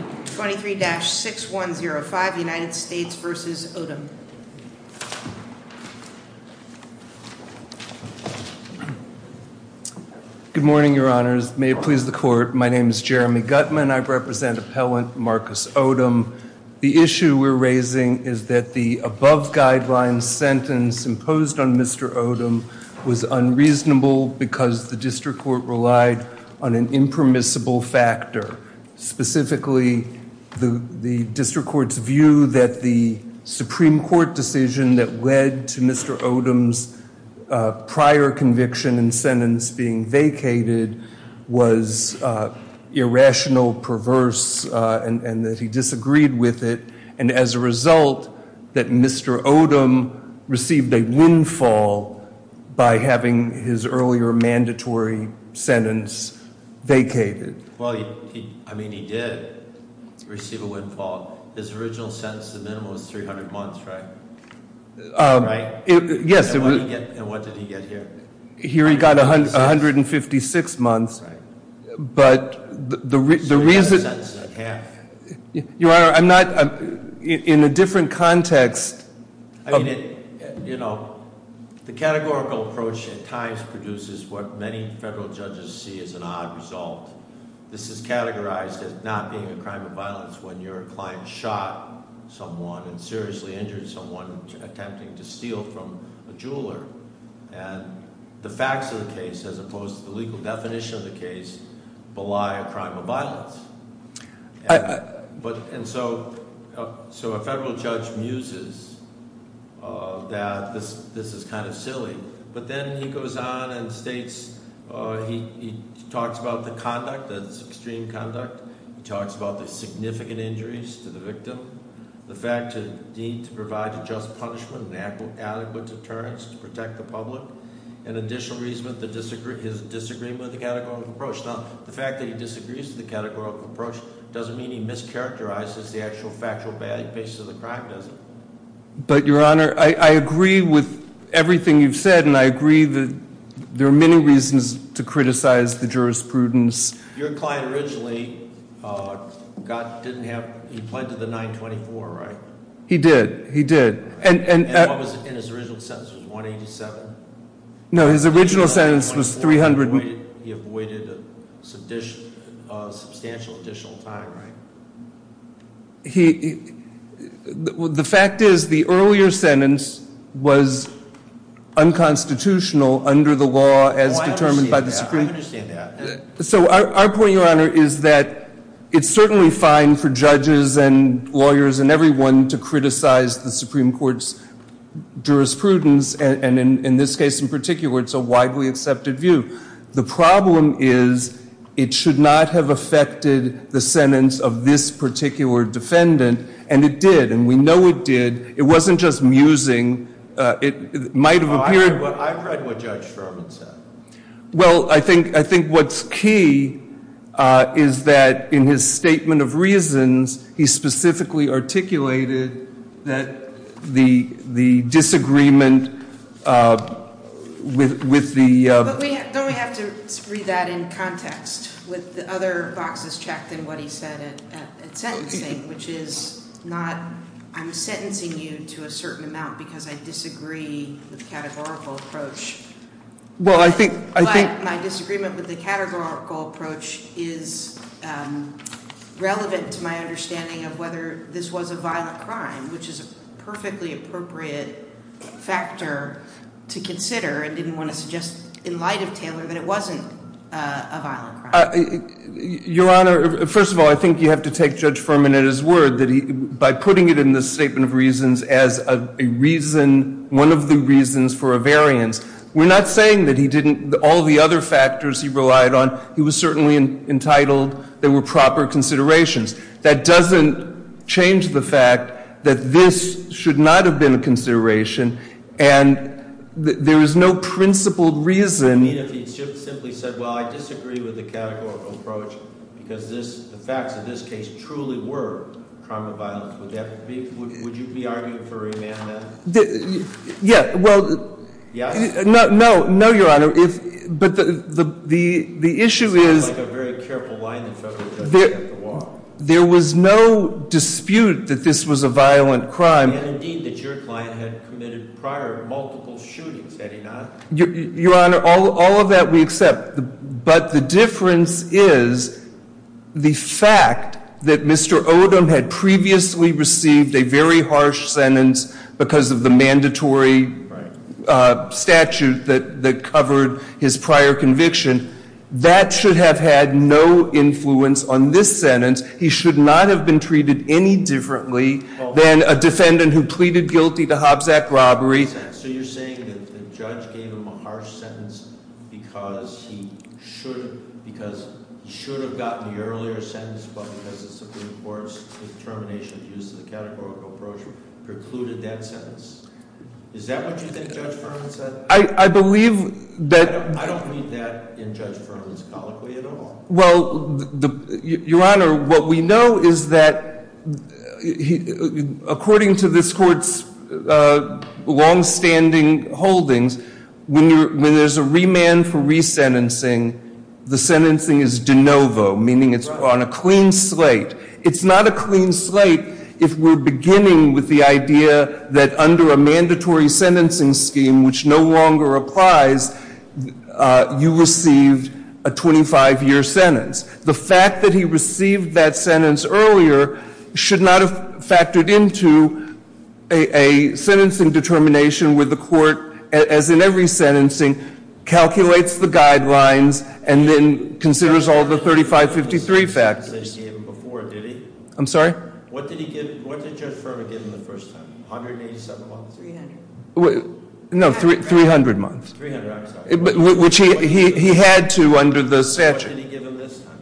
23-6105 United States v. Odom Good morning, your honors. May it please the court, my name is Jeremy Gutman, I represent appellant Marcus Odom. The issue we're raising is that the above guidelines sentence imposed on Mr. Odom was unreasonable because the district court relied on an impermissible factor, specifically the district court's view that the Supreme Court decision that led to Mr. Odom's prior conviction and sentence being vacated was irrational, perverse, and that he disagreed with it, and as a result, that Mr. Odom received a windfall by having his earlier mandatory sentence vacated. Well, I mean, he did receive a windfall. His original sentence, the minimum was 300 months, right? Right? Yes. And what did he get here? Here he got 156 months, but the reason... So he got the sentence at half. Your honor, I'm not, in a different context... I mean, you know, the categorical approach at times produces what many federal judges see as an odd result. This is categorized as not being a crime of violence when your client shot someone and seriously injured someone attempting to steal from a jeweler, and the facts of the case, as opposed to the legal definition of the case, belie a crime of violence. And so a federal judge muses that this is kind of silly, but then he goes on and states, he talks about the conduct, that it's extreme conduct. He talks about the significant injuries to the victim, the fact to provide a just punishment and adequate deterrence to protect the public, and additional reason for his disagreement with the categorical approach. Now, the fact that he disagrees with the categorical approach doesn't mean he mischaracterizes the actual factual basis of the crime, does it? But your honor, I agree with everything you've said, and I agree that there are many reasons to criticize the jurisprudence. Your client originally got, didn't have, he pleaded the 924, right? He did. He did. And he pleaded a substantial additional time, right? The fact is, the earlier sentence was unconstitutional under the law as determined by the Supreme Court. I understand that. So our point, your honor, is that it's certainly fine for judges and lawyers and everyone to criticize the Supreme Court's jurisprudence, and in this case in particular, it's a widely accepted view. The problem is, it should not have affected the sentence of this particular defendant, and it did. And we know it did. It wasn't just musing. It might have appeared... Well, I've read what Judge Sherman said. Well, I think what's key is that in his statement of reasons, he specifically articulated that the disagreement with the... But don't we have to read that in context with the other boxes checked in what he said at sentencing, which is not, I'm sentencing you to a certain amount because I disagree with the categorical approach. Well, I think... But my disagreement with the categorical approach is relevant to my understanding of whether this was a violent crime, which is a perfectly appropriate factor to consider and didn't want to suggest in light of Taylor that it wasn't a violent crime. Your honor, first of all, I think you have to take Judge Ferman at his word that by putting it in the statement of reasons as a reason, one of the reasons for a variance, we're not saying that he didn't... all the other factors he relied on, he was certainly entitled... they were proper considerations. That doesn't change the fact that this should not have been a consideration, and there is no principled reason... I mean, if he simply said, well, I disagree with the categorical approach because the facts of this case truly were crime of violence, would you be arguing for remandment? Yeah, well... Yes? No, no, your honor. But the issue is... It sounds like a very careful line that federal judges have to walk. There was no dispute that this was a violent crime. And indeed that your client had committed prior multiple shootings, had he not? Your honor, all of that we accept, but the difference is the fact that Mr. Odom had previously received a very harsh sentence because of the mandatory statute that covered his prior conviction. That should have had no influence on this sentence. He should not have been treated any differently than a defendant who pleaded guilty to Hobbs Act robbery. So you're saying that the judge gave him a harsh sentence because he should have gotten the earlier sentence, but because the Supreme Court's determination to use the categorical approach precluded that sentence? Is that what you think Judge Ferman said? I believe that... I don't read that in Judge Ferman's colloquy at all. Well, your honor, what we know is that according to this court's longstanding holdings, when there's a remand for resentencing, the sentencing is de novo, meaning it's on a clean slate. It's not a clean slate if we're beginning with the idea that under a mandatory sentencing scheme, which no longer applies, you received a 25-year sentence. The fact that he received that sentence earlier should not have factored into a sentencing determination where the court, as in every sentencing, calculates the guidelines and then considers all the 3553 facts. They gave him before, did he? I'm sorry? What did Judge Ferman give him the first time? $187,300? No, 300 months. 300, I'm sorry. Which he had to under the statute. What did he give him this time?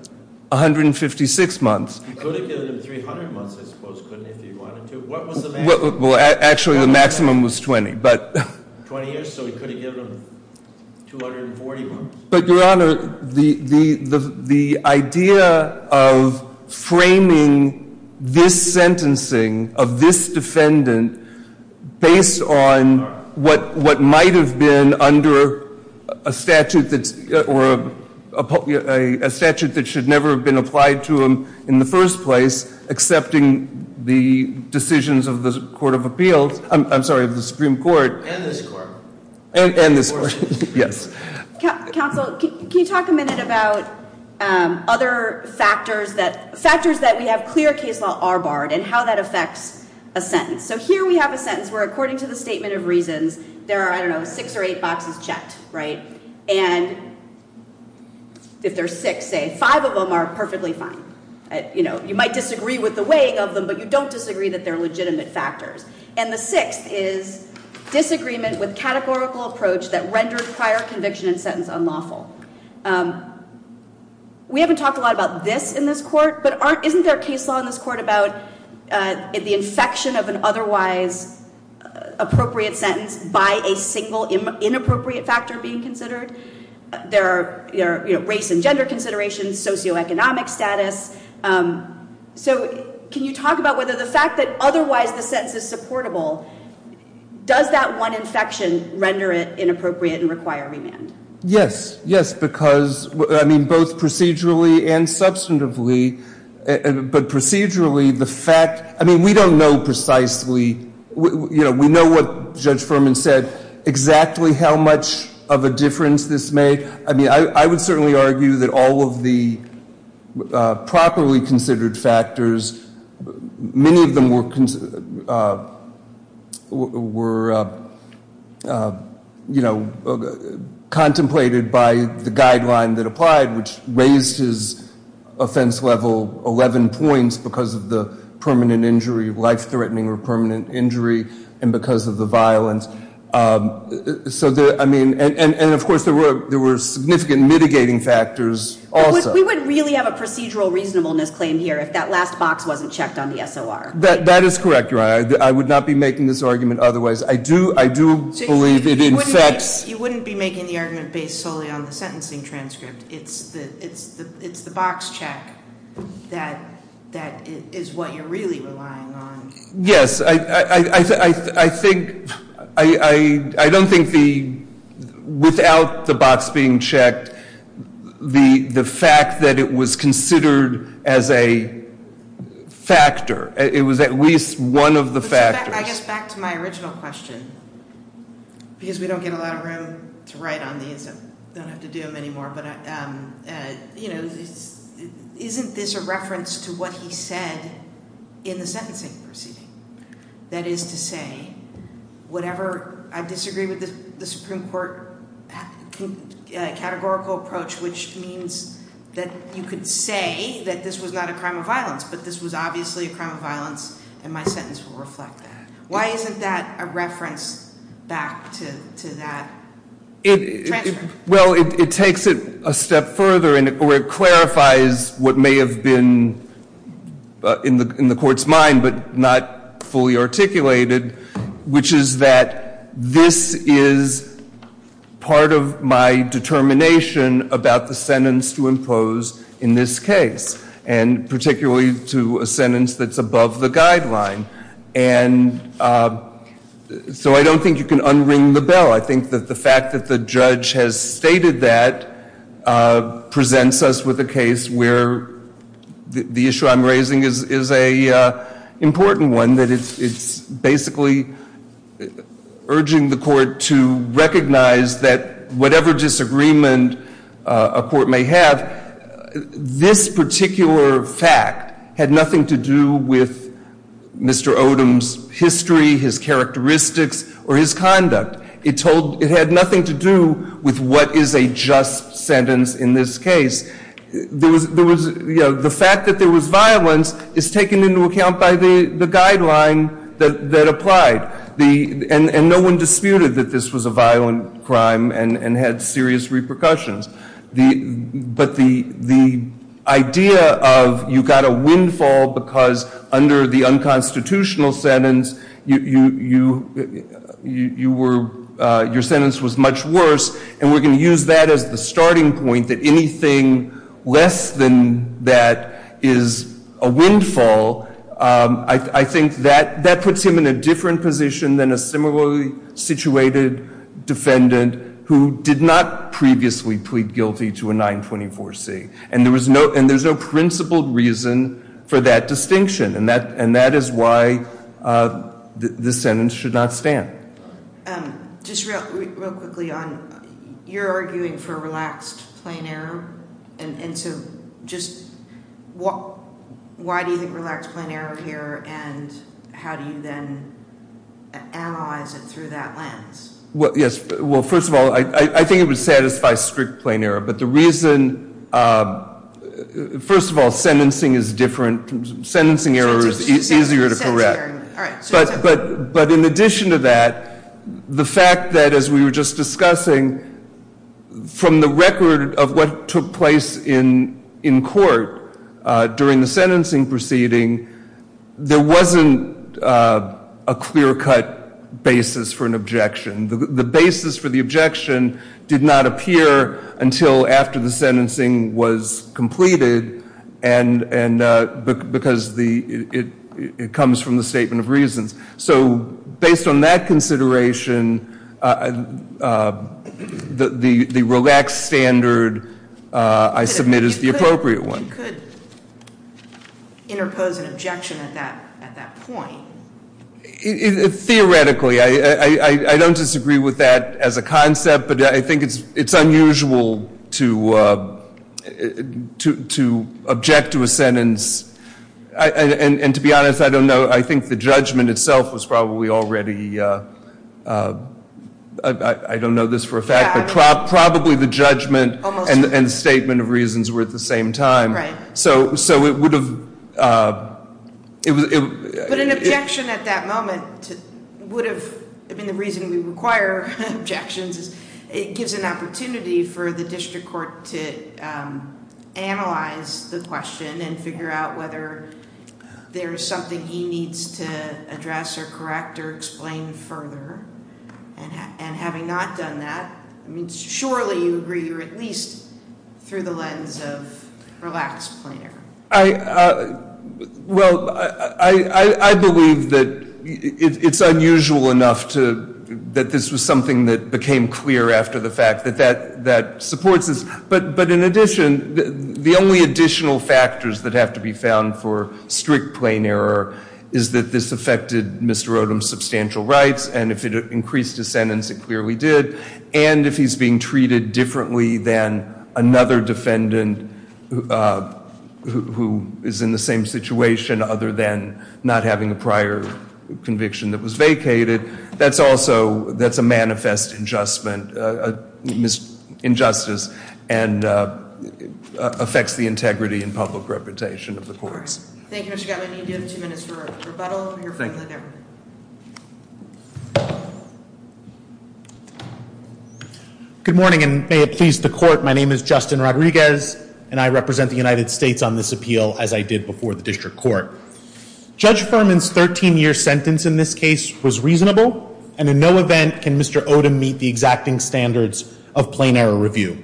156 months. He could have given him 300 months, I suppose, if he wanted to. What was the maximum? Actually, the maximum was 20. 20 years, so he could have given him 240 months. Your Honor, the idea of framing this sentencing of this defendant based on what might have been under a statute that should never have been applied to him in the first place, accepting the decisions of the Supreme Court. And this Court. And this Court, yes. Counsel, can you talk a minute about other factors that, factors that we have clear case law are barred and how that affects a sentence. So here we have a sentence where according to the statement of reasons there are, I don't know, six or eight boxes checked, right? And if there's six, say, five of them are perfectly fine. You know, you might disagree with the weighing of them, but you don't disagree that they're legitimate factors. And the sixth is disagreement with categorical approach that rendered prior conviction and sentence unlawful. We haven't talked a lot about this in this Court, but aren't, isn't there a case law in this Court about the infection of an otherwise appropriate sentence by a single inappropriate factor being considered? There are, you know, race and gender considerations, socioeconomic status. So can you talk about whether the fact that otherwise the sentence is supportable, does that one infection render it inappropriate and require remand? Yes. Yes, because, I mean, both procedurally and substantively, but procedurally the fact, I mean, we don't know precisely, you know, we know what Judge Furman said, exactly how much of a difference this made. I mean, I would certainly argue that all of the properly considered factors, many of them were, you know, contemplated by the guideline that applied, which raised his offense level 11 points because of the permanent injury, life-threatening or permanent injury, and because of the violence. So, I mean, and of course there were significant mitigating factors also. We wouldn't really have a procedural reasonableness claim here if that last box wasn't checked on the SOR. That is correct, Your Honor. I would not be making this argument otherwise. I do believe it infects. You wouldn't be making the argument based solely on the sentencing transcript. It's the box check that is what you're really relying on. Yes. I think, I don't think the, without the box being checked, the fact that it was considered as a factor, it was at least one of the factors. I guess back to my original question, because we don't get a lot of room to write on these and don't have to do them anymore, but, you know, isn't this a reference to what he said in the sentencing proceeding? That is to say, whatever, I disagree with the Supreme Court categorical approach, which means that you could say that this was not a crime of violence, but this was obviously a crime of violence and my sentence will reflect that. Why isn't that a reference back to that transfer? Well, it takes it a step further, or it clarifies what may have been in the Court's mind, but not fully articulated, which is that this is part of my determination about the sentence to impose in this case, and particularly to a sentence that's above the guideline. And so I don't think you can unring the bell. I think that the fact that the judge has stated that presents us with a case where the issue I'm raising is an important one, that it's basically urging the Court to recognize that whatever disagreement a Court may have, this particular fact had nothing to do with Mr. Odom's history, his characteristics, or his conduct. It had nothing to do with what is a just sentence in this case. The fact that there was violence is taken into account by the guideline that applied, and no one disputed that this was a violent crime and had serious repercussions. But the idea of you got a windfall because under the unconstitutional sentence your sentence was much worse, and we're going to use that as the starting point that anything less than that is a windfall, I think that puts him in a different position than a similarly situated defendant who did not previously plead guilty to a 924C. And there's no principled reason for that distinction. And that is why this sentence should not stand. Just real quickly, you're arguing for relaxed plain error. Why do you think relaxed plain error here, and how do you then analyze it through that lens? Well, first of all, I think it would satisfy strict plain error. But the reason, first of all, sentencing is different. Sentencing error is easier to correct. But in addition to that, the fact that, as we were just discussing, from the record of what took place in court during the sentencing proceeding, there wasn't a clear-cut basis for an objection. The basis for the objection did not appear until after the sentencing was completed because it comes from the statement of reasons. So based on that consideration, the relaxed standard I submit is the appropriate one. You could interpose an objection at that point. Theoretically, I don't disagree with that as a concept, but I think it's unusual to object to a sentence. And to be honest, I don't know. I think the judgment itself was probably already, I don't know this for a fact, but probably the judgment and statement of reasons were at the same time. Right. So it would have- But an objection at that moment would have, I mean, the reason we require objections is it gives an opportunity for the district court to analyze the question and figure out whether there is something he needs to address or correct or explain further. And having not done that, surely you agree, or at least through the lens of relaxed plain error. Well, I believe that it's unusual enough that this was something that became clear after the fact, that that supports this. But in addition, the only additional factors that have to be found for strict plain error is that this affected Mr. Odom's substantial rights and if it increased his sentence, it clearly did. And if he's being treated differently than another defendant who is in the same situation other than not having a prior conviction that was vacated, that's also, that's a manifest injustice and affects the integrity and public reputation of the courts. Thank you, Mr. Gottman. You have two minutes for rebuttal. Thank you. Good morning and may it please the court. My name is Justin Rodriguez and I represent the United States on this appeal as I did before the district court. Judge Furman's 13-year sentence in this case was reasonable and in no event can Mr. Odom meet the exacting standards of plain error review.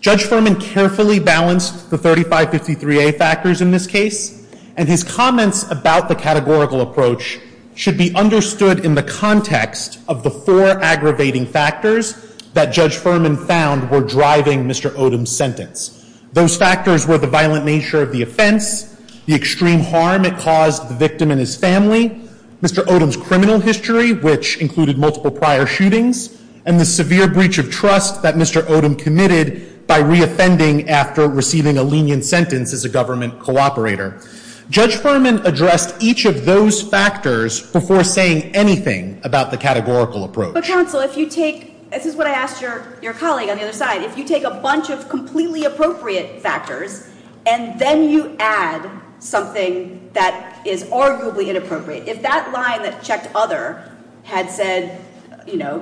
Judge Furman carefully balanced the 3553A factors in this case and his comments about the categorical approach should be understood in the context of the four aggravating factors that Judge Furman found were driving Mr. Odom's sentence. Those factors were the violent nature of the offense, the extreme harm it caused the victim and his family, Mr. Odom's criminal history, which included multiple prior shootings, and the severe breach of trust that Mr. Odom committed by reoffending after receiving a lenient sentence as a government cooperator. Judge Furman addressed each of those factors before saying anything about the categorical approach. But counsel, if you take, this is what I asked your colleague on the other side, if you take a bunch of completely appropriate factors and then you add something that is arguably inappropriate, if that line that checked other had said, you know,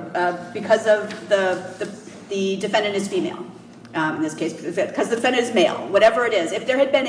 because the defendant is female in this case, because the defendant is male, whatever it is, if there had been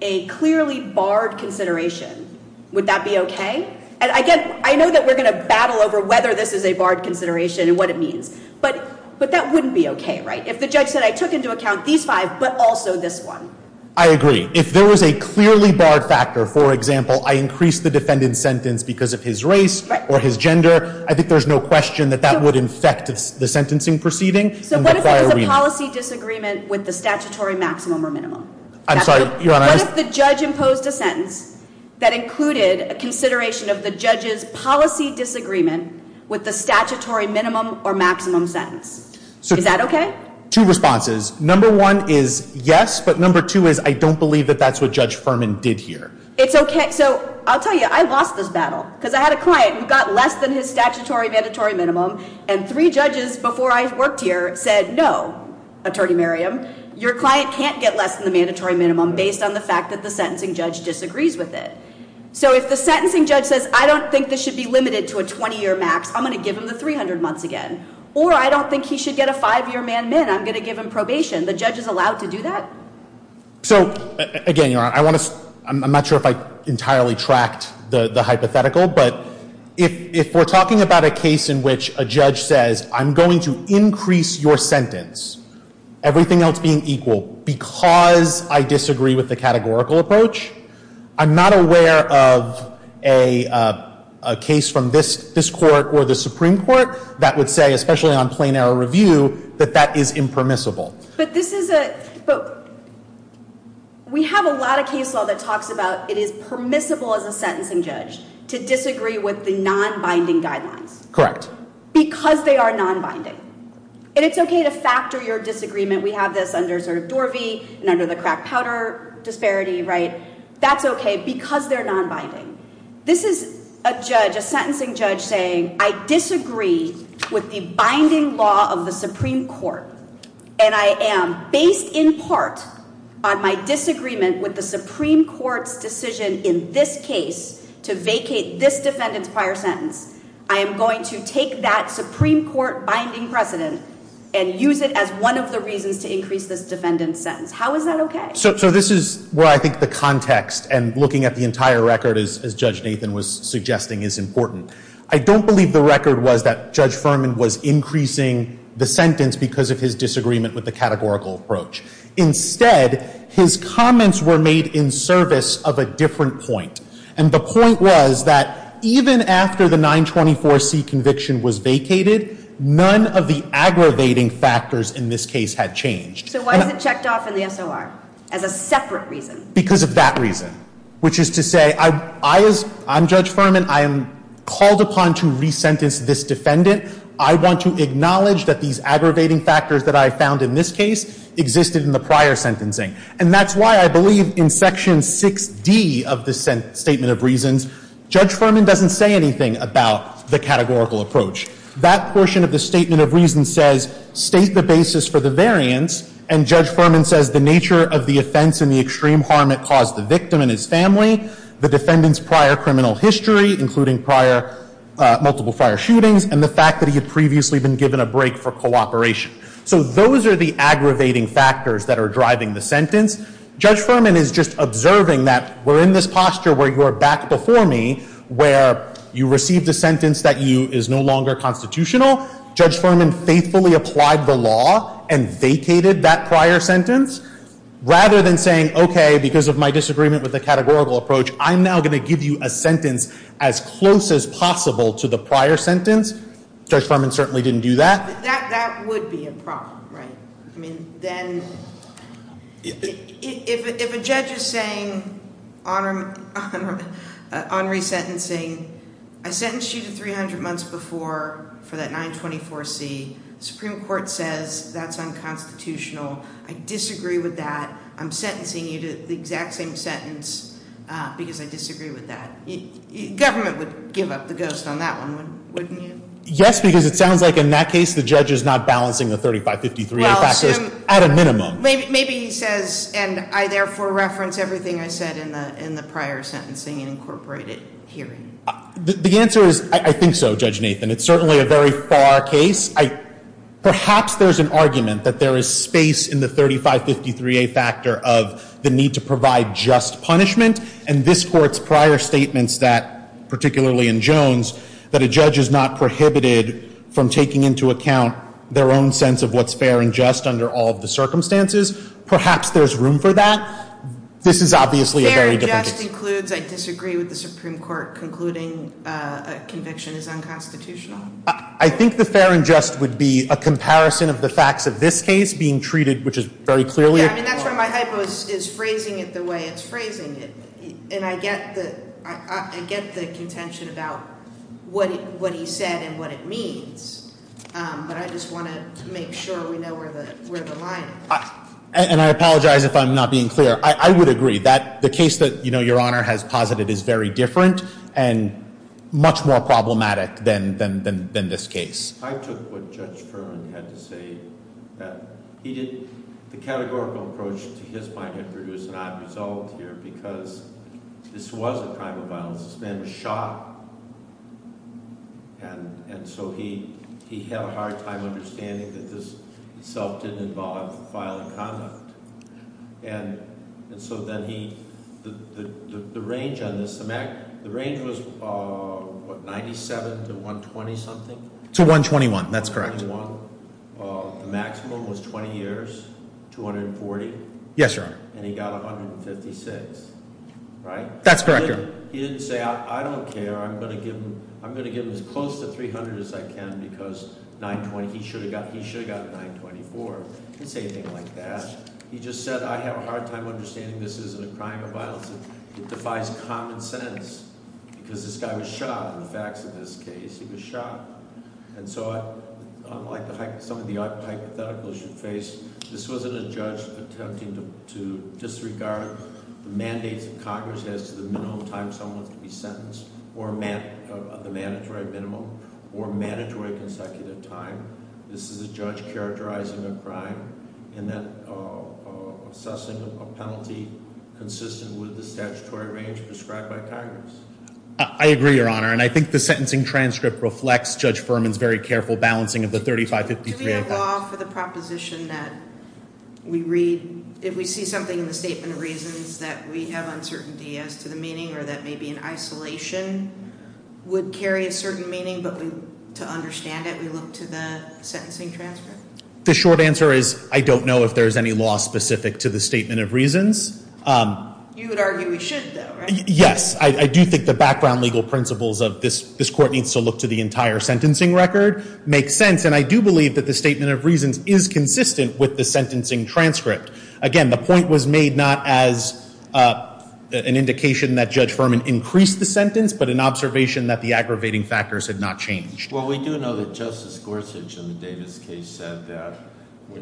a clearly barred consideration, would that be okay? And again, I know that we're going to battle over whether this is a barred consideration and what it means, but that wouldn't be okay, right? If the judge said, I took into account these five, but also this one. I agree. If there was a clearly barred factor, for example, I increased the defendant's sentence because of his race or his gender, I think there's no question that that would infect the sentencing proceeding. So what if there was a policy disagreement with the statutory maximum or minimum? I'm sorry, Your Honor. What if the judge imposed a sentence that included a consideration of the judge's policy disagreement with the statutory minimum or maximum sentence? Is that okay? Two responses. Number one is yes, but number two is I don't believe that that's what Judge Furman did here. It's okay. So I'll tell you, I lost this battle because I had a client who got less than his statutory mandatory minimum and three judges before I worked here said, no, Attorney Merriam, your client can't get less than the mandatory minimum based on the fact that the sentencing judge disagrees with it. So if the sentencing judge says, I don't think this should be limited to a 20-year max, I'm going to give him the 300 months again. Or I don't think he should get a five-year man-min. I'm going to give him probation. The judge is allowed to do that? So, again, Your Honor, I'm not sure if I entirely tracked the hypothetical, but if we're talking about a case in which a judge says, I'm going to increase your sentence, everything else being equal, because I disagree with the categorical approach, I'm not aware of a case from this court or the Supreme Court that would say, especially on plain error review, that that is impermissible. But this is a... We have a lot of case law that talks about it is permissible as a sentencing judge to disagree with the non-binding guidelines. Correct. Because they are non-binding. And it's okay to factor your disagreement. We have this under, sort of, Dorvey and under the crack powder disparity, right? That's okay because they're non-binding. This is a judge, a sentencing judge saying, I disagree with the binding law of the Supreme Court and I am based in part on my disagreement with the Supreme Court's decision in this case to vacate this defendant's prior sentence. I am going to take that Supreme Court binding precedent and use it as one of the reasons to increase this defendant's sentence. How is that okay? So this is where I think the context and looking at the entire record as Judge Nathan was suggesting is important. I don't believe the record was that he disagreed with the categorical approach. Instead, his comments were made in service of a different point. And the point was that even after the 924C conviction was vacated none of the aggravating factors in this case had changed. So why is it checked off in the SOR? As a separate reason. Because of that reason. Which is to say I am Judge Furman I am called upon to resentence this defendant. I want to acknowledge that these aggravating factors that I found in this case existed in the prior sentencing. And that's why I believe in Section 6D of the Statement of Reasons Judge Furman doesn't say anything about the categorical approach. That portion of the Statement of Reasons says state the basis for the variance and Judge Furman says the nature of the offense and the extreme harm it caused the victim and his family, the defendant's prior criminal history including multiple prior shootings and the fact that he had previously been given a break for cooperation. So those are the aggravating factors that are driving the sentence. Judge Furman is just observing that we're in this posture where you are back before me where you received a sentence that is no longer constitutional Judge Furman faithfully applied the law and vacated that prior sentence. Rather than saying okay because of my disagreement with the categorical approach I'm now going to give you a sentence as close as a prior sentence. Judge Furman certainly didn't do that. That would be a problem, right? I mean then if a judge is saying on resentencing I sentenced you to 300 months before for that 924C Supreme Court says that's unconstitutional. I disagree with that. I'm sentencing you to the exact same sentence because I disagree with that. Government would give up the ghost on that one, wouldn't you? Yes because it sounds like in that case the judge is not balancing the 3553A factors at a minimum. Maybe he says and I therefore reference everything I said in the prior sentencing and incorporated hearing. The answer is I think so Judge Nathan. It's certainly a very far case. Perhaps there's an argument that there is space in the 3553A factor of the need to provide just punishment and this Court's prior statements that particularly in Jones that a judge is not prohibited from taking into account their own sense of what's fair and just under all of the circumstances. Perhaps there's room for that. This is obviously a very different case. Fair and just includes I disagree with the Supreme Court concluding a conviction is unconstitutional. I think the fair and just would be a comparison of the facts of this case being treated which is very clearly. Yeah I mean that's where my hypo is phrasing it the way it's phrasing it and I get the contention about what he said and what it means but I just want to make sure we know where the line is. And I apologize if I'm not being clear. I would agree that the case that your Honor has posited is very different and much more problematic than this case. I took what Judge Fearn had to say that he did the categorical approach to his finding produced an odd result here because this was a crime of violence. This man was shot and so he had a hard time understanding that this itself didn't involve violent conduct and so then he, the range on this, the range was what 97 to 120 something? To 121 that's correct. 121 the maximum was 20 years 240? Yes Your Honor. And he got 156 right? That's correct Your Honor. He didn't say I don't care I'm going to give him as close to 300 as I can because he should have gotten 924 he didn't say anything like that. He just said I have a hard time understanding this isn't a crime of violence it defies common sense because this guy was shot in the facts of this case. He was shot and so unlike some of the hypotheticals you face this wasn't a judge attempting to disregard the mandates that Congress has to the minimum time someone is to be sentenced or the mandatory minimum or mandatory consecutive time this is a judge characterizing a crime and then consistent with the statutory range prescribed by Congress. I agree Your Honor and I think the sentencing transcript reflects Judge Furman's very careful balancing of the 3553 Do we have law for the proposition that we read if we see something in the statement of reasons that we have uncertainty as to the meaning or that maybe an isolation would carry a certain meaning but we to understand it we look to the sentencing transcript? The short answer is I don't know if there is any law specific to the statement of reasons You would argue we should though right? Yes I do think the background legal principles of this court needs to look to the entire sentencing record makes sense and I do believe that the statement of reasons is consistent with the sentencing transcript. Again the point was made not as an indication that Judge Furman increased the sentence but an observation that the aggravating factors had not changed. Well we do know that Justice Gorsuch in the Davis case said that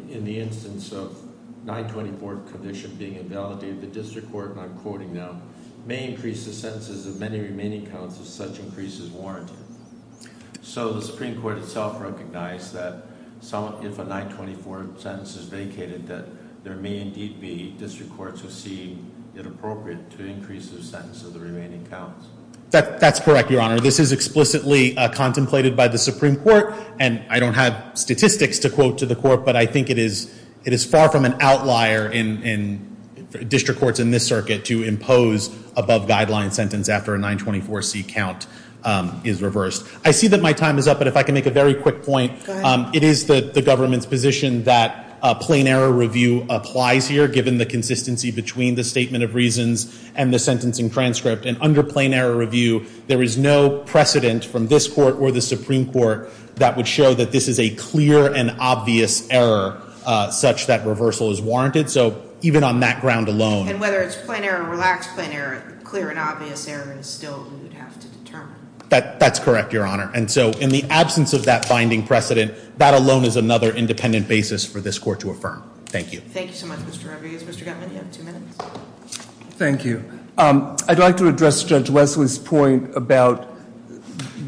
in the instance of 924 commission being invalidated the district court and I'm quoting now may increase the sentences of many remaining counts if such increase is warranted so the Supreme Court itself recognized that if a 924 sentence is vacated that there may indeed be district courts who see it appropriate to increase the sentence of the remaining counts. That's correct your honor this is explicitly contemplated by the Supreme Court and I don't have statistics to quote to the court but I think it is far from an outlier in district courts in this circuit to impose above guideline sentence after a 924C count is reversed. I see that my time is up but if I can make a very quick point it is the government's position that plain error review applies here given the consistency between the statement of reasons and the sentencing transcript and under plain error review there is no precedent from this court or the Supreme Court that would show that this is a clear and obvious error such that on that ground alone. And whether it's plain error or relaxed plain error, clear and obvious error is still who would have to determine. That's correct your honor and so in the absence of that binding precedent that alone is another independent basis for this court to affirm. Thank you. Thank you so much Mr. Rodriguez. Mr. Gutman you have two minutes. Thank you. I'd like to address Judge Wesley's point about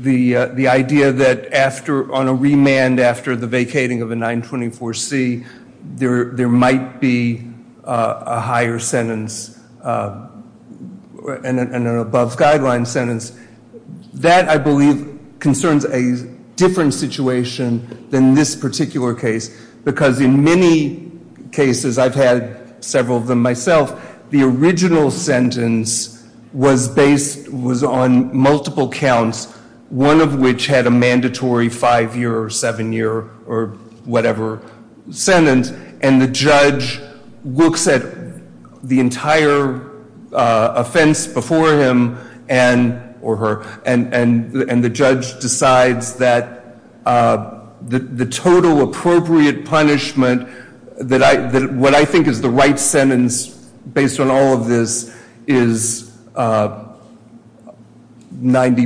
the idea that after on a remand after the vacating of a 924C there might be a higher sentence and an above guideline sentence. That I believe concerns a different situation than this particular case because in many cases I've had several of them myself the original sentence was based on multiple counts one of which had a mandatory 5 year or 7 year or whatever sentence and the judge looks at the entire offense before him and the judge decides that the total appropriate punishment what I think is the right sentence based on all of this is 90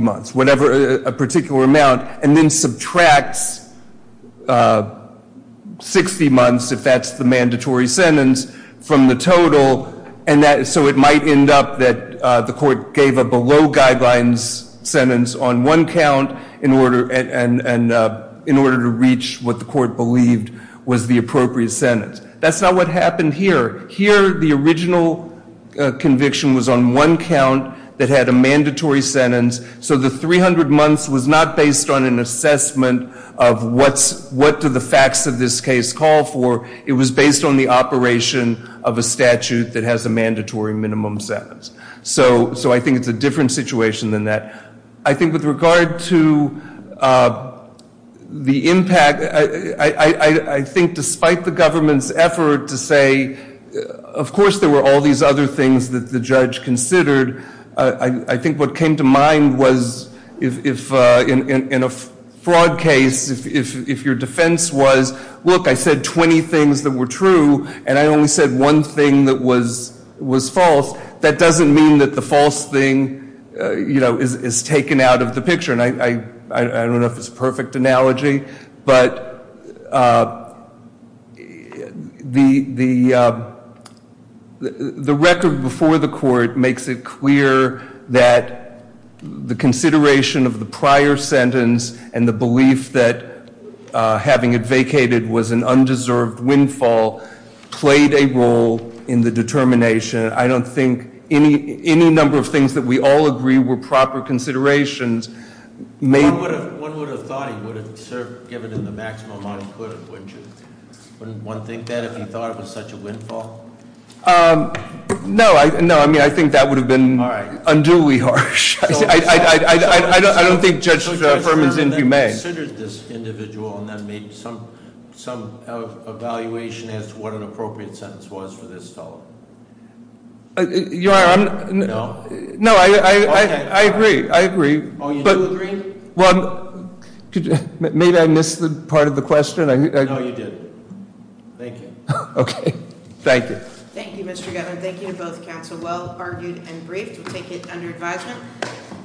months a particular amount and then subtracts 60 months if that's the mandatory sentence from the total so it might end up that the court gave a below guidelines sentence on one count in order to reach what the court believed was the appropriate sentence. That's not what happened here. Here the original conviction was on one count that had a mandatory sentence so the 300 months was not based on an the facts of this case call for it was based on the operation of a statute that has a mandatory minimum sentence so I think it's a different situation than that. I think with regard to the impact I think despite the government's effort to say of course there were all these other things that the judge considered I think what came to mind was in a fraud case if your defense was look I said 20 things that were true and I only said one thing that was false that doesn't mean that the false thing is taken out of the picture and I don't know if it's a perfect analogy but the record before the court makes it clear that the consideration of the belief that having it vacated was an undeserved windfall played a role in the determination I don't think any number of things that we all agree were proper considerations one would have thought he would have given him the maximum amount he could wouldn't one think that if he thought it was such a windfall no I think that would have been unduly harsh I don't think judge Ferman's inhumane this individual and that made some some evaluation as to what an appropriate sentence was for this fellow your honor no I agree oh you do agree well maybe I missed the part of the question no you did thank you okay thank you thank you to both counsel well argued and brave to take it under advisement